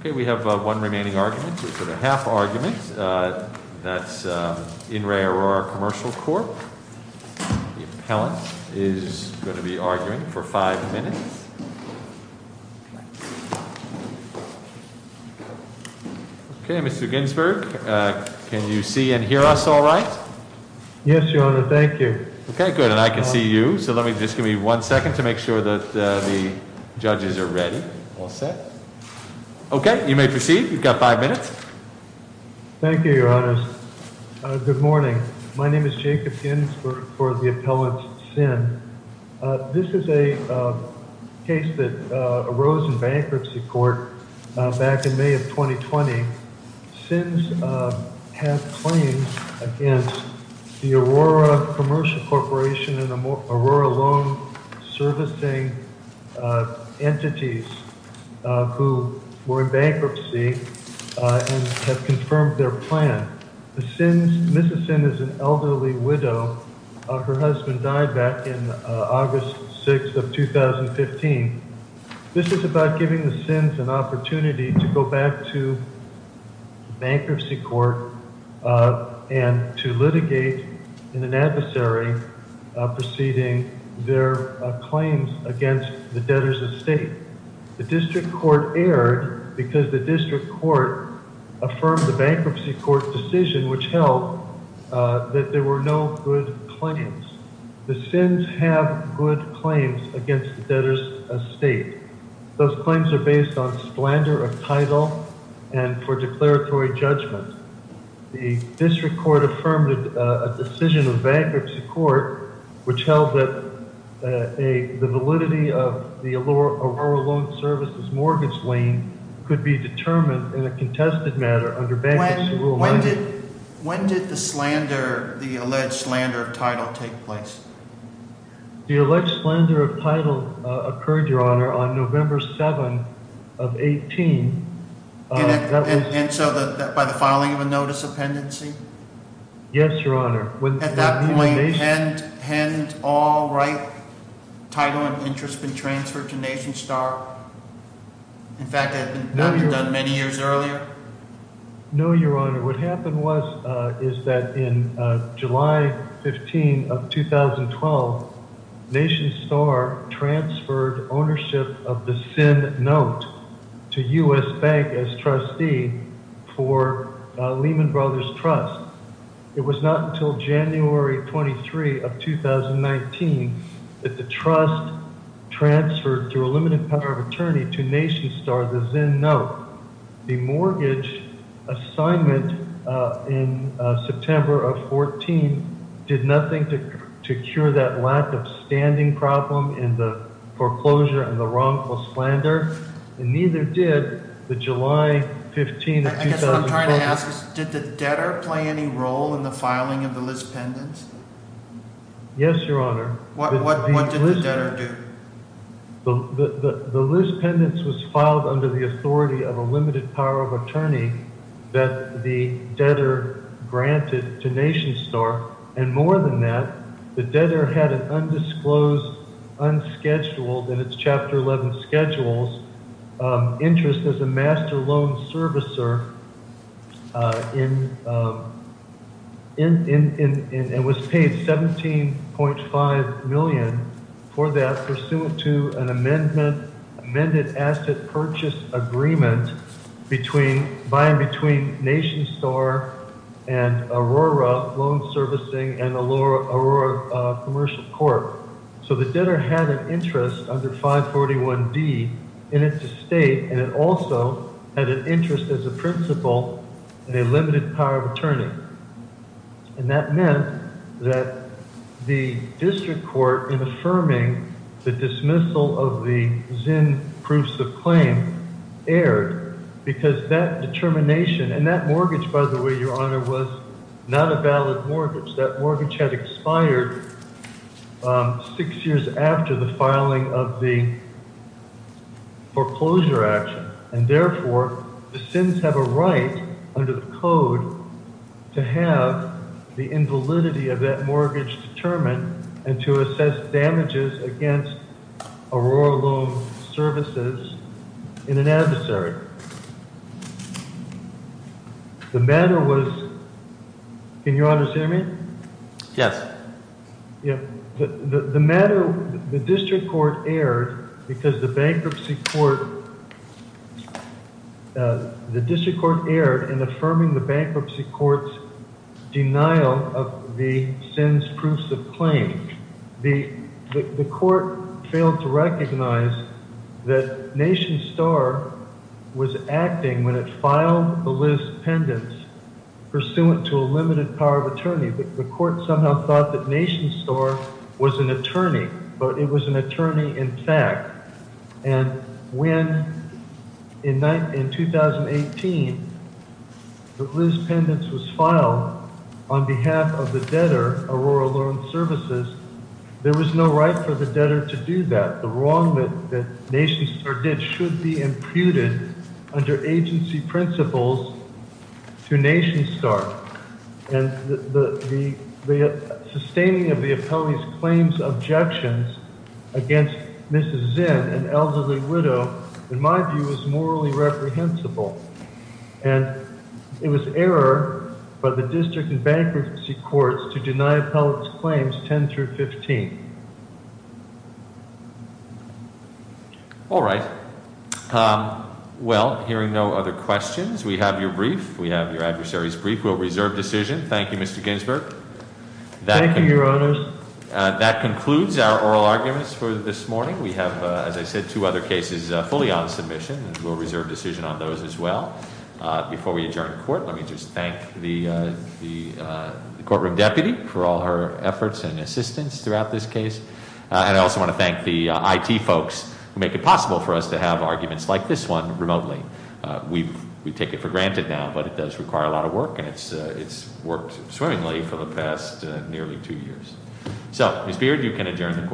Okay, we have one remaining argument, so the half argument, that's in Re Aurora Commercial Corp. The appellant is going to be arguing for five minutes. Okay, Mr. Ginsberg, can you see and hear us all right? Yes, your honor, thank you. Okay, good, and I can see you, so just give me one second to make sure that the judges are ready. All set? Okay, you may proceed, you've got five minutes. Thank you, your honors. Good morning, my name is Jacob Ginsberg for the appellant, Sin. This is a case that arose in bankruptcy court back in May of 2020. Sins have claims against the Aurora Commercial Corporation and were in bankruptcy and have confirmed their plan. The Sins, Mrs. Sin is an elderly widow, her husband died back in August 6th of 2015. This is about giving the Sins an opportunity to go back to bankruptcy court and to litigate in an adversary proceeding their claims against the debtors' estate. The district court erred because the district court affirmed the bankruptcy court's decision which held that there were no good claims. The Sins have good claims against the debtors' estate. Those claims are based on splendor of title and for declaratory judgment. The district court affirmed a decision of bankruptcy court, which held that the validity of the Aurora Loan Service's mortgage lien could be determined in a contested matter under bankruptcy rule. When did the slander, the alleged slander of title take place? The alleged slander of title occurred, your honor, on November 7th of 18. And so by the filing of a notice of pendency? Yes, your honor. At that point, hadn't all right, title and interest been transferred to NationStar? In fact, that had been done many years earlier? No, your honor. What happened was, is that in July 15 of 2012, NationStar transferred ownership of the Sin note to U.S. Bank as trustee for Lehman Brothers Trust. It was not until January 23 of 2019 that the trust transferred through a limited power of attorney to NationStar, the Sin note. The mortgage assignment in September of 14 did nothing to cure that lack of standing problem in the foreclosure and the wrongful slander, and neither did the July 15 of 2014. I guess what I'm trying to ask is, did the debtor play any role in the filing of the list pendants? Yes, your honor. What did the debtor do? The list pendants was filed under the authority of a limited power of attorney that the debtor granted to NationStar. And more than that, the debtor had an undisclosed, unscheduled, in its chapter 11 schedules, interest as a master loan servicer, and was paid $17.5 million for that pursuant to an amended asset purchase agreement by and between NationStar and Aurora Loan Servicing and the debtor had an interest under 541D in its estate, and it also had an interest as a principal in a limited power of attorney. And that meant that the district court in affirming the dismissal of the ZIN proofs of claim erred because that determination, and that mortgage, by the way, your honor, was not a valid mortgage. That mortgage had expired six years after the filing of the foreclosure action. And therefore, the ZINs have a right, under the code, to have the invalidity of that mortgage determined and to assess damages against Aurora Loan Services in an adversary. The matter was, can your honors hear me? Yes. Yeah, the matter, the district court erred because the bankruptcy court, the district court erred in affirming the bankruptcy court's denial of the ZINs proofs of claim. The court failed to recognize that NationStar was acting when it filed the Liz Pendents pursuant to a limited power of attorney. The court somehow thought that NationStar was an attorney, but it was an attorney in fact. And when, in 2018, the Liz Pendents was filed on behalf of the debtor, Aurora Loan Services, there was no right for the debtor to do that. The wrong that NationStar did should be imputed under agency principles to NationStar. And the sustaining of the appellee's claims objections against Mrs. Pendents was not comprehensible, and it was error by the district and bankruptcy courts to deny appellate's claims 10 through 15. All right, well, hearing no other questions, we have your brief. We have your adversary's brief. We'll reserve decision. Thank you, Mr. Ginsburg. Thank you, your honors. That concludes our oral arguments for this morning. We have, as I said, two other cases fully on submission. We'll reserve decision on those as well. Before we adjourn court, let me just thank the courtroom deputy for all her efforts and assistance throughout this case. And I also want to thank the IT folks who make it possible for us to have arguments like this one remotely. We take it for granted now, but it does require a lot of work, and it's worked swimmingly for the past nearly two years. So, Ms. Beard, you can adjourn the court. Court is adjourned.